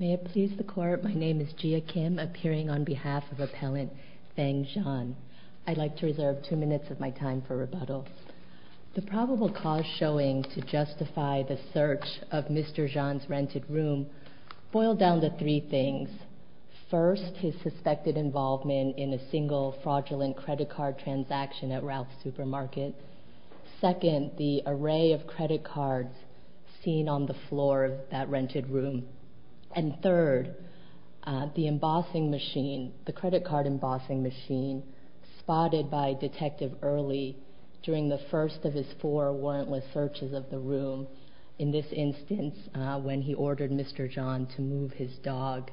May it please the Court, my name is Jia Kim, appearing on behalf of Appellant Feng Xian. I'd like to reserve two minutes of my time for rebuttal. The probable cause showing to justify the search of Mr. Xian's rented room boiled down to three things. First, his suspected involvement in a single fraudulent credit card transaction at Ralph's Supermarket. Second, the array of credit cards seen on the floor of that rented room. And third, the embossing machine, the credit card embossing machine, spotted by Detective Early during the first of his four warrantless searches of the room. In this instance, when he ordered Mr. Xian to move his dog,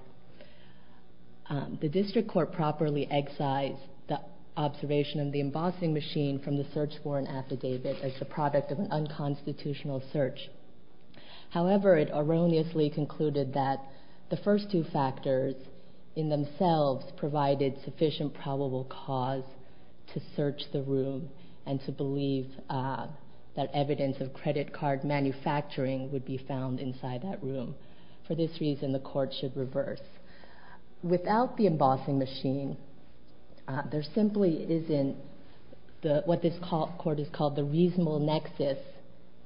the District Court properly excised the observation of the embossing machine from the search warrant affidavit as the product of an unconstitutional search. However, it erroneously concluded that the first two factors in themselves provided sufficient probable cause to search the room and to believe that evidence of credit card manufacturing would be found inside that room. For this reason, the Court should reverse. Without the embossing machine, there simply isn't what this Court has called the reasonable nexus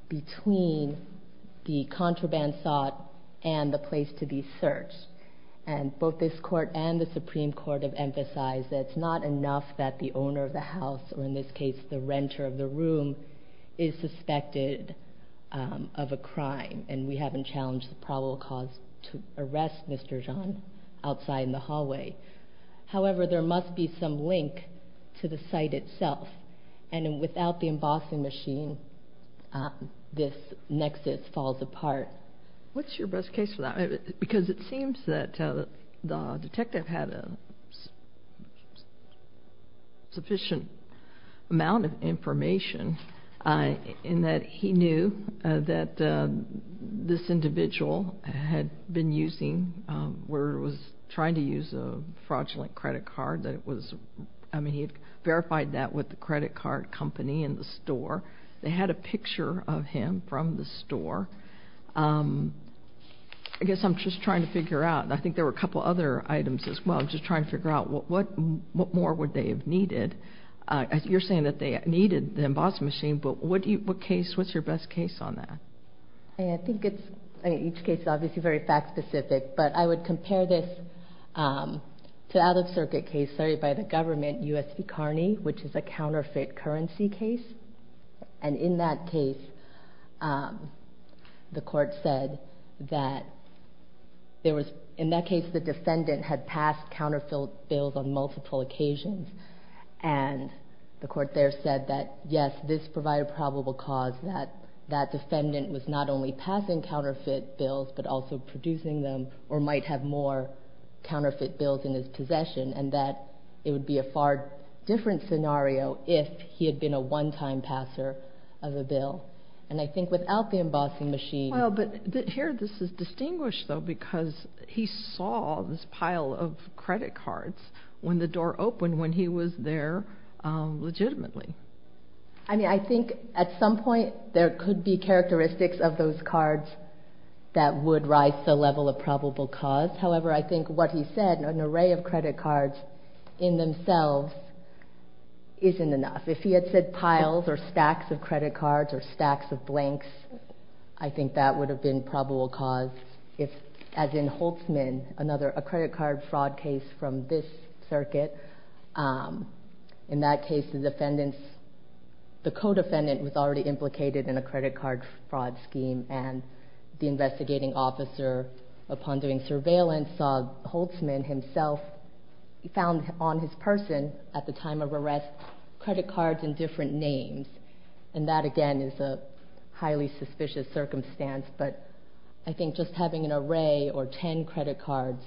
between the contraband sought and the place to be searched. And both this Court and the Supreme Court have emphasized that it's not enough that the owner of the house, or in this case the renter of the room, is suspected of a crime and we haven't challenged the probable cause to arrest Mr. Xian outside in the hallway. However, there must be some link to the site itself. And without the embossing machine, this nexus falls apart. What's your best case for that? Because it seems that the detective had a sufficient amount of information in that he knew that this individual had been using, or was trying to use a fraudulent credit card that it was, I mean he verified that with the credit card company in the store. They had a picture of him from the store. I guess I'm just trying to figure out, and I think there were a couple other items as well, just trying to figure out what more would they have needed. You're saying that they needed the embossing machine, but what's your best case on that? I think each case is obviously very fact-specific, but I would compare this to an out-of-circuit case started by the government, U.S. v. Carney, which is a counterfeit currency case. And in that case, the court said that there was, in that case the defendant had passed counterfeit bills on multiple occasions. And the court there said that, yes, this provided probable cause that that defendant was not only passing counterfeit bills, but also producing them, or might have more counterfeit bills in his possession, and that it would be a far different scenario if he had been a one-time passer of a bill. And I think without the embossing machine- Well, but here this is distinguished, though, because he saw this pile of credit cards when the door opened when he was there legitimately. I mean, I think at some point there could be characteristics of those cards that would rise to the level of probable cause. However, I think what he said, an array of credit cards in themselves isn't enough. If he had said piles or stacks of credit cards or stacks of blanks, I think that would have been probable cause. As in Holtzman, another credit card fraud case from this circuit, in that case the defendant's, the co-defendant was already implicated in a credit card fraud scheme, and the investigating officer, upon doing surveillance, saw Holtzman himself found on his person at the time of arrest credit cards in different names. And that, again, is a highly suspicious circumstance. But I think just having an array or ten credit cards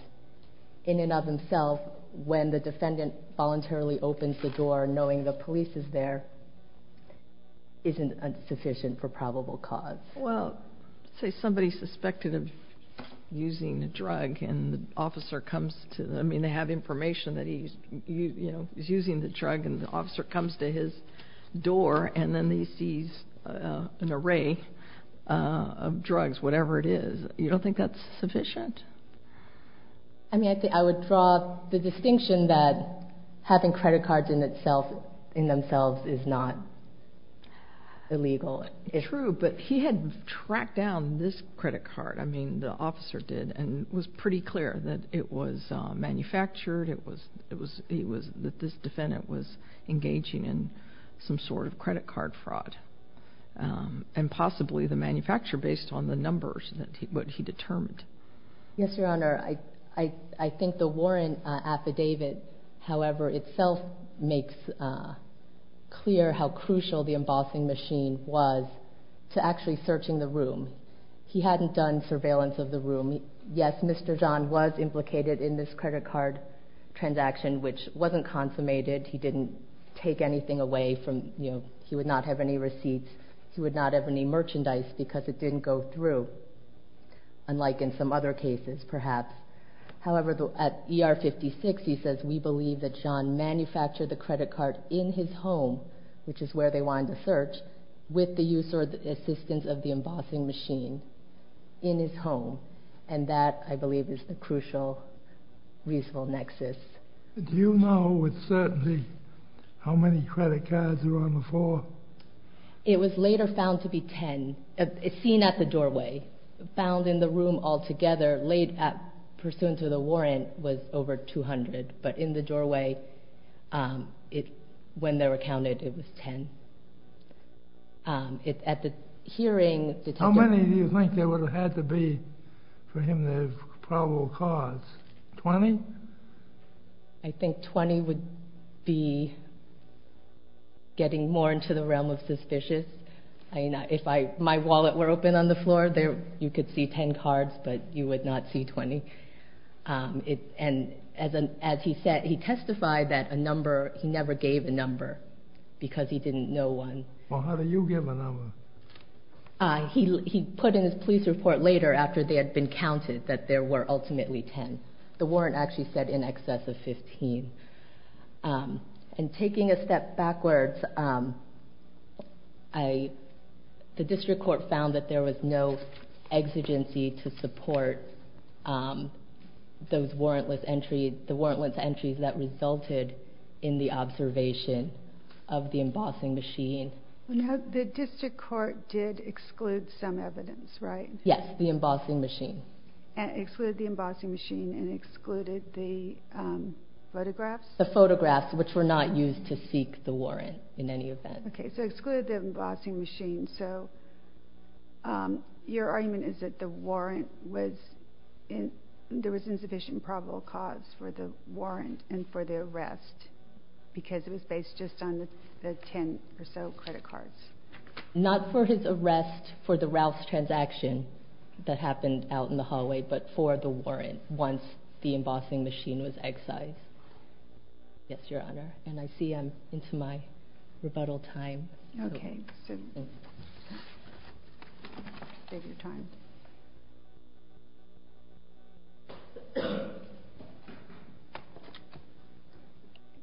in and of themselves when the defendant voluntarily opens the door knowing the police is there isn't sufficient for probable cause. Well, say somebody's suspected of using a drug and the officer comes to, I mean, they have information that he's using the drug and the officer comes to his door and then he sees an array of drugs, whatever it is. You don't think that's sufficient? I mean, I would draw the distinction that having credit cards in themselves is not illegal. True, but he had tracked down this credit card, I mean, the officer did, and it was pretty clear that it was manufactured, that this defendant was engaging in some sort of credit card fraud, and possibly the manufacturer based on the numbers that he determined. Yes, Your Honor. I think the warrant affidavit, however, itself makes clear how crucial the embossing machine was to actually searching the room. He hadn't done surveillance of the room. Yes, Mr. John was implicated in this credit card transaction, which wasn't consummated. He didn't take anything away from, you know, he would not have any receipts. He would not have any merchandise because it didn't go through, unlike in some other cases, perhaps. However, at ER 56, he says, we believe that John manufactured the credit card in his home, which is where they wanted to search, with the use or assistance of the embossing machine in his home, and that, I believe, is the crucial reasonable nexus. Do you know with certainty how many credit cards were on the floor? It was later found to be 10, seen at the doorway. Found in the room altogether, pursuant to the warrant, was over 200. But in the doorway, when they were counted, it was 10. How many do you think there would have had to be for him to have probable cause? 20? I think 20 would be getting more into the realm of suspicious. If my wallet were open on the floor, you could see 10 cards, but you would not see 20. And as he testified, he never gave a number because he didn't know one. Well, how do you give a number? He put in his police report later, after they had been counted, that there were ultimately 10. The warrant actually said in excess of 15. And taking a step backwards, the district court found that there was no exigency to support those warrantless entries that resulted in the observation of the embossing machine. The district court did exclude some evidence, right? Yes, the embossing machine. Excluded the embossing machine and excluded the photographs? The photographs, which were not used to seek the warrant in any event. Okay, so excluded the embossing machine. So your argument is that there was insufficient probable cause for the warrant and for the arrest because it was based just on the 10 or so credit cards? Not for his arrest for the rouse transaction that happened out in the hallway, but for the warrant once the embossing machine was excised. Yes, Your Honor. And I see I'm into my rebuttal time. Okay. Good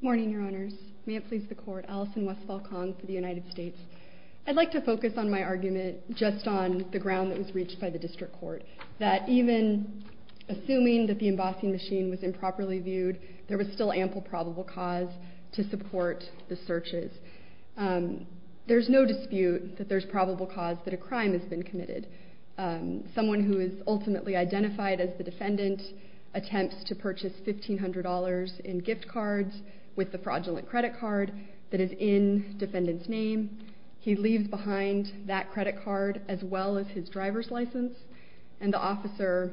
morning, Your Honors. May it please the Court. Allison Westfall-Kong for the United States. I'd like to focus on my argument just on the ground that was reached by the district court, that even assuming that the embossing machine was improperly viewed, there was still ample probable cause to support the searches. There's no dispute that there's probable cause that a crime has been committed. Someone who is ultimately identified as the defendant attempts to purchase $1,500 in gift cards with the fraudulent credit card that is in defendant's name. He leaves behind that credit card as well as his driver's license, and the officer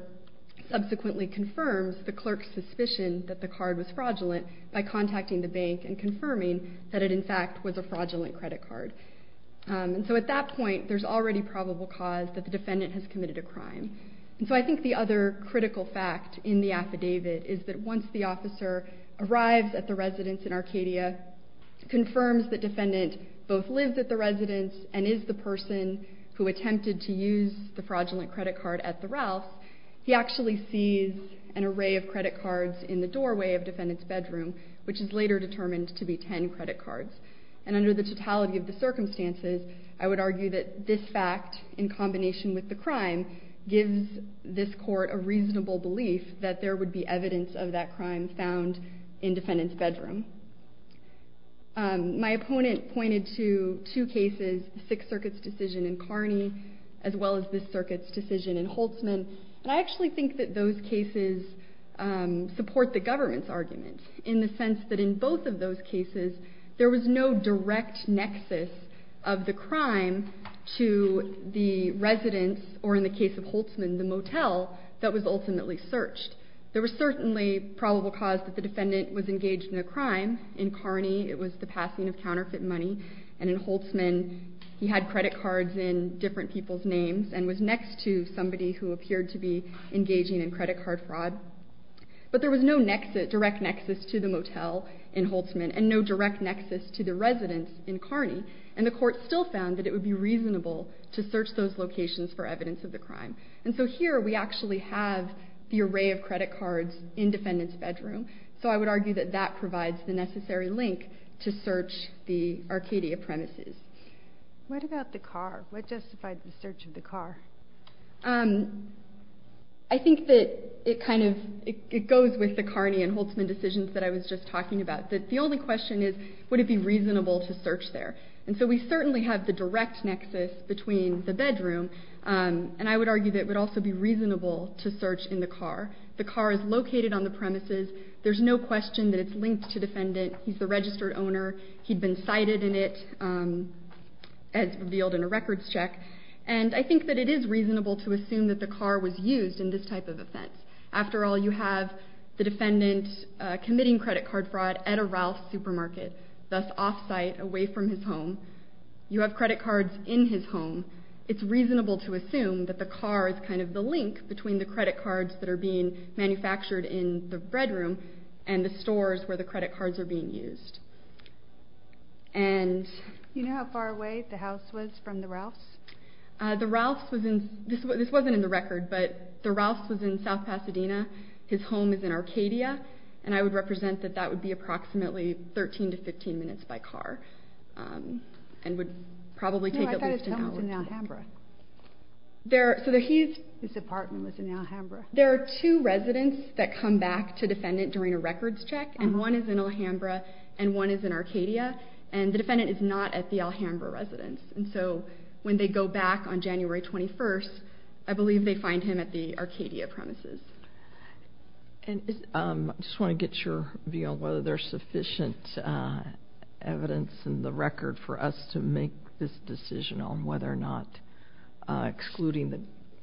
subsequently confirms the clerk's suspicion that the card was fraudulent by contacting the bank and confirming that it, in fact, was a fraudulent credit card. And so at that point, there's already probable cause that the defendant has committed a crime. And so I think the other critical fact in the affidavit is that once the officer arrives at the residence in Arcadia, confirms the defendant both lives at the residence and is the person who attempted to use the fraudulent credit card at the Rouse, he actually sees an array of credit cards in the doorway of defendant's bedroom, which is later determined to be ten credit cards. And under the totality of the circumstances, I would argue that this fact, in combination with the crime, gives this court a reasonable belief that there would be evidence of that crime found in defendant's bedroom. My opponent pointed to two cases, Sixth Circuit's decision in Kearney as well as this circuit's decision in Holtzman, and I actually think that those cases support the government's argument in the sense that in both of those cases, there was no direct nexus of the crime to the residence, or in the case of Holtzman, the motel that was ultimately searched. There was certainly probable cause that the defendant was engaged in a crime. In Kearney, it was the passing of counterfeit money, and in Holtzman, he had credit cards in different people's names and was next to somebody who appeared to be engaging in credit card fraud. But there was no direct nexus to the motel in Holtzman and no direct nexus to the residence in Kearney, and the court still found that it would be reasonable to search those locations for evidence of the crime. And so here, we actually have the array of credit cards in defendant's bedroom, so I would argue that that provides the necessary link to search the Arcadia premises. What about the car? What justified the search of the car? I think that it kind of goes with the Kearney and Holtzman decisions that I was just talking about. The only question is, would it be reasonable to search there? And so we certainly have the direct nexus between the bedroom, and I would argue that it would also be reasonable to search in the car. The car is located on the premises. There's no question that it's linked to defendant. He's the registered owner. He'd been cited in it, as revealed in a records check. And I think that it is reasonable to assume that the car was used in this type of offense. After all, you have the defendant committing credit card fraud at a Ralph's supermarket, thus off-site, away from his home. You have credit cards in his home. It's reasonable to assume that the car is kind of the link between the credit cards that are being manufactured in the bedroom and the stores where the credit cards are being used. You know how far away the house was from the Ralph's? This wasn't in the record, but the Ralph's was in South Pasadena. His home is in Arcadia, and I would represent that that would be approximately 13 to 15 minutes by car and would probably take at least an hour. No, I thought his home was in Alhambra. His apartment was in Alhambra. There are two residents that come back to defendant during a records check, and one is in Alhambra and one is in Arcadia, and the defendant is not at the Alhambra residence. So when they go back on January 21st, I believe they find him at the Arcadia premises. I just want to get your view on whether there's sufficient evidence in the record for us to make this decision on whether or not excluding the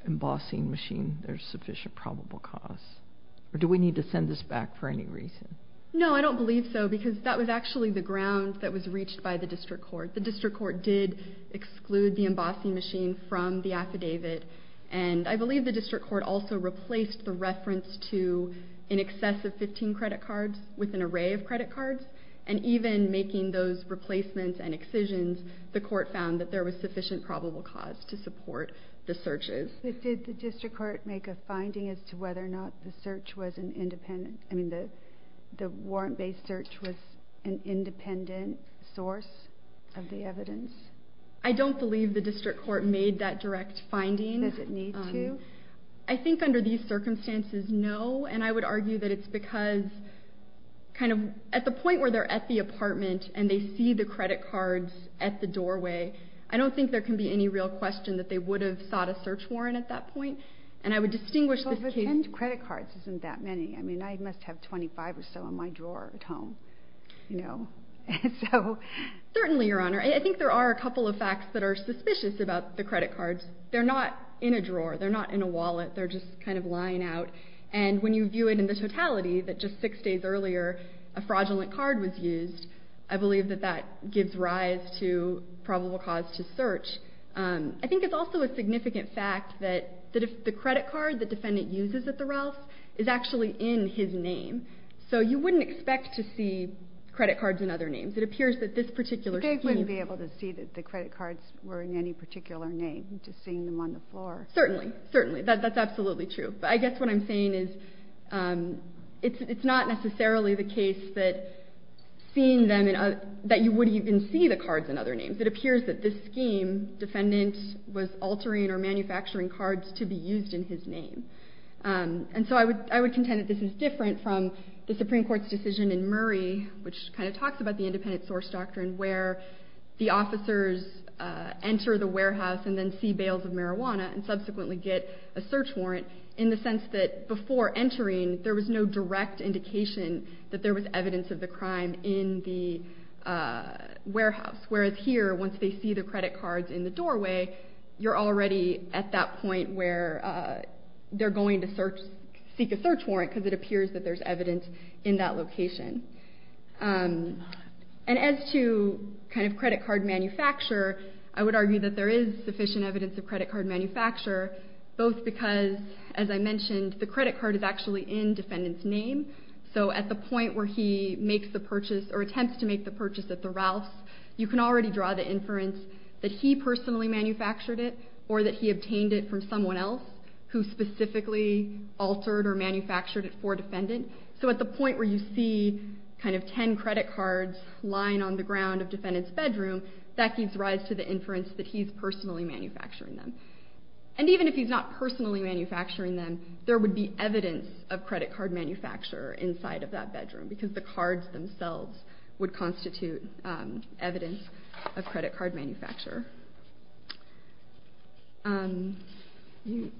embossing machine there's sufficient probable cause, or do we need to send this back for any reason? No, I don't believe so because that was actually the ground that was reached by the district court. The district court did exclude the embossing machine from the affidavit, and I believe the district court also replaced the reference to in excess of 15 credit cards with an array of credit cards, and even making those replacements and excisions, the court found that there was sufficient probable cause to support the searches. Did the district court make a finding as to whether or not the warrant-based search was an independent source of the evidence? I don't believe the district court made that direct finding. Does it need to? I think under these circumstances, no, and I would argue that it's because kind of at the point where they're at the apartment and they see the credit cards at the doorway, I don't think there can be any real question that they would have sought a search warrant at that point, and I would distinguish this case. Well, but 10 credit cards isn't that many. I mean, I must have 25 or so in my drawer at home, you know. Certainly, Your Honor. I think there are a couple of facts that are suspicious about the credit cards. They're not in a drawer. They're not in a wallet. They're just kind of lying out, and when you view it in the totality that just six days earlier a fraudulent card was used, I believe that that gives rise to probable cause to search. I think it's also a significant fact that the credit card the defendant uses at the Ralph's is actually in his name, so you wouldn't expect to see credit cards in other names. It appears that this particular scheme… But they wouldn't be able to see that the credit cards were in any particular name, just seeing them on the floor. Certainly, certainly. That's absolutely true. But I guess what I'm saying is it's not necessarily the case that seeing them in other… that you wouldn't even see the cards in other names. It appears that this scheme, defendant was altering or manufacturing cards to be used in his name. And so I would contend that this is different from the Supreme Court's decision in Murray, which kind of talks about the independent source doctrine where the officers enter the warehouse and then see bales of marijuana and subsequently get a search warrant, in the sense that before entering there was no direct indication that there was evidence of the crime in the warehouse. Whereas here, once they see the credit cards in the doorway, you're already at that point where they're going to seek a search warrant because it appears that there's evidence in that location. And as to kind of credit card manufacture, I would argue that there is sufficient evidence of credit card manufacture, both because, as I mentioned, the credit card is actually in defendant's name. So at the point where he makes the purchase or attempts to make the purchase at the Ralphs, you can already draw the inference that he personally manufactured it or that he obtained it from someone else who specifically altered or manufactured it for defendant. So at the point where you see kind of ten credit cards lying on the ground of defendant's bedroom, that gives rise to the inference that he's personally manufacturing them. And even if he's not personally manufacturing them, there would be evidence of credit card manufacture inside of that bedroom because the cards themselves would constitute evidence of credit card manufacture. In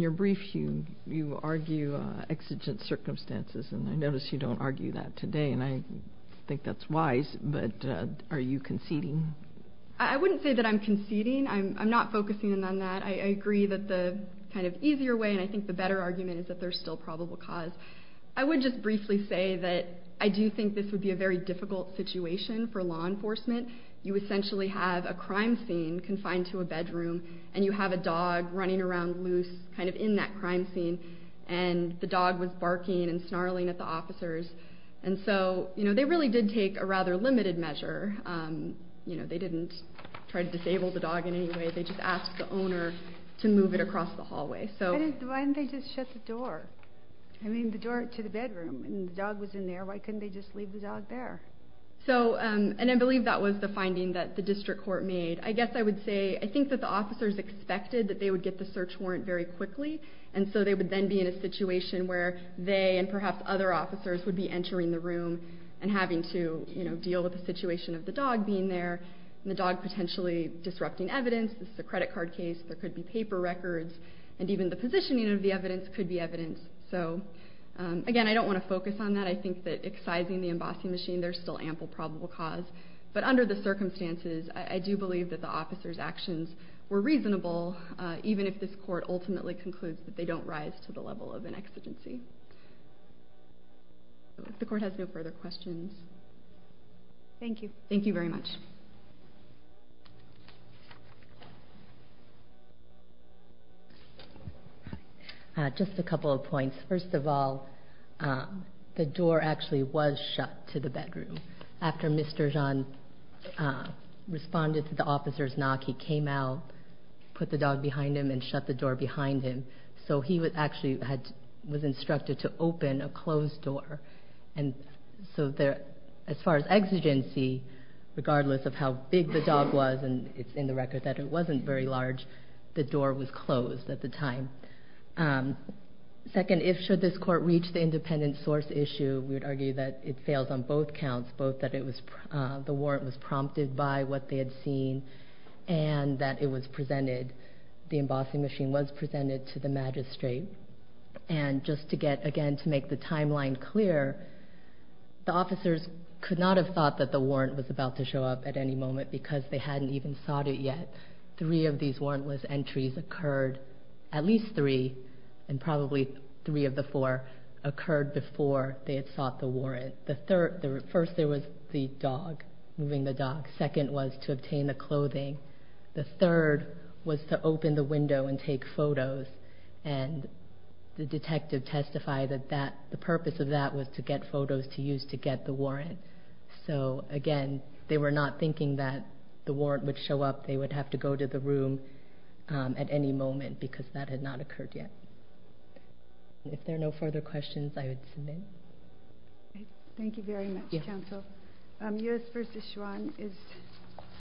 your brief, you argue exigent circumstances, and I notice you don't argue that today, and I think that's wise, but are you conceding? I wouldn't say that I'm conceding. I'm not focusing on that. I agree that the kind of easier way, and I think the better argument, is that there's still probable cause. I would just briefly say that I do think this would be a very difficult situation for law enforcement. You essentially have a crime scene confined to a bedroom, and you have a dog running around loose kind of in that crime scene, and the dog was barking and snarling at the officers, and so they really did take a rather limited measure. They didn't try to disable the dog in any way. They just asked the owner to move it across the hallway. Why didn't they just shut the door? I mean, the door to the bedroom, and the dog was in there. Why couldn't they just leave the dog there? I believe that was the finding that the district court made. I guess I would say I think that the officers expected that they would get the search warrant very quickly, and so they would then be in a situation where they, and perhaps other officers, would be entering the room and having to deal with the situation of the dog being there and the dog potentially disrupting evidence. This is a credit card case. There could be paper records, and even the positioning of the evidence could be evidence. Again, I don't want to focus on that. I think that excising the embossing machine, there's still ample probable cause. But under the circumstances, I do believe that the officers' actions were reasonable, even if this court ultimately concludes that they don't rise to the level of an exigency. The court has no further questions. Thank you. Thank you very much. Just a couple of points. First of all, the door actually was shut to the bedroom. After Mr. Jeanne responded to the officer's knock, he came out, put the dog behind him, and shut the door behind him. So he actually was instructed to open a closed door. So as far as exigency, regardless of how big the dog was, and it's in the record that it wasn't very large, the door was closed at the time. Second, should this court reach the independent source issue, we would argue that it fails on both counts, both that the warrant was prompted by what they had seen and that it was presented, the embossing machine was presented to the magistrate. And just to get, again, to make the timeline clear, the officers could not have thought that the warrant was about to show up at any moment because they hadn't even sought it yet. Three of these warrantless entries occurred, at least three, and probably three of the four occurred before they had sought the warrant. First, there was the dog, moving the dog. Second was to obtain the clothing. The third was to open the window and take photos. And the detective testified that the purpose of that was to get photos to use to get the warrant. So, again, they were not thinking that the warrant would show up, they would have to go to the room at any moment because that had not occurred yet. If there are no further questions, I would submit. Thank you very much, counsel. U.S. v. Schwan is...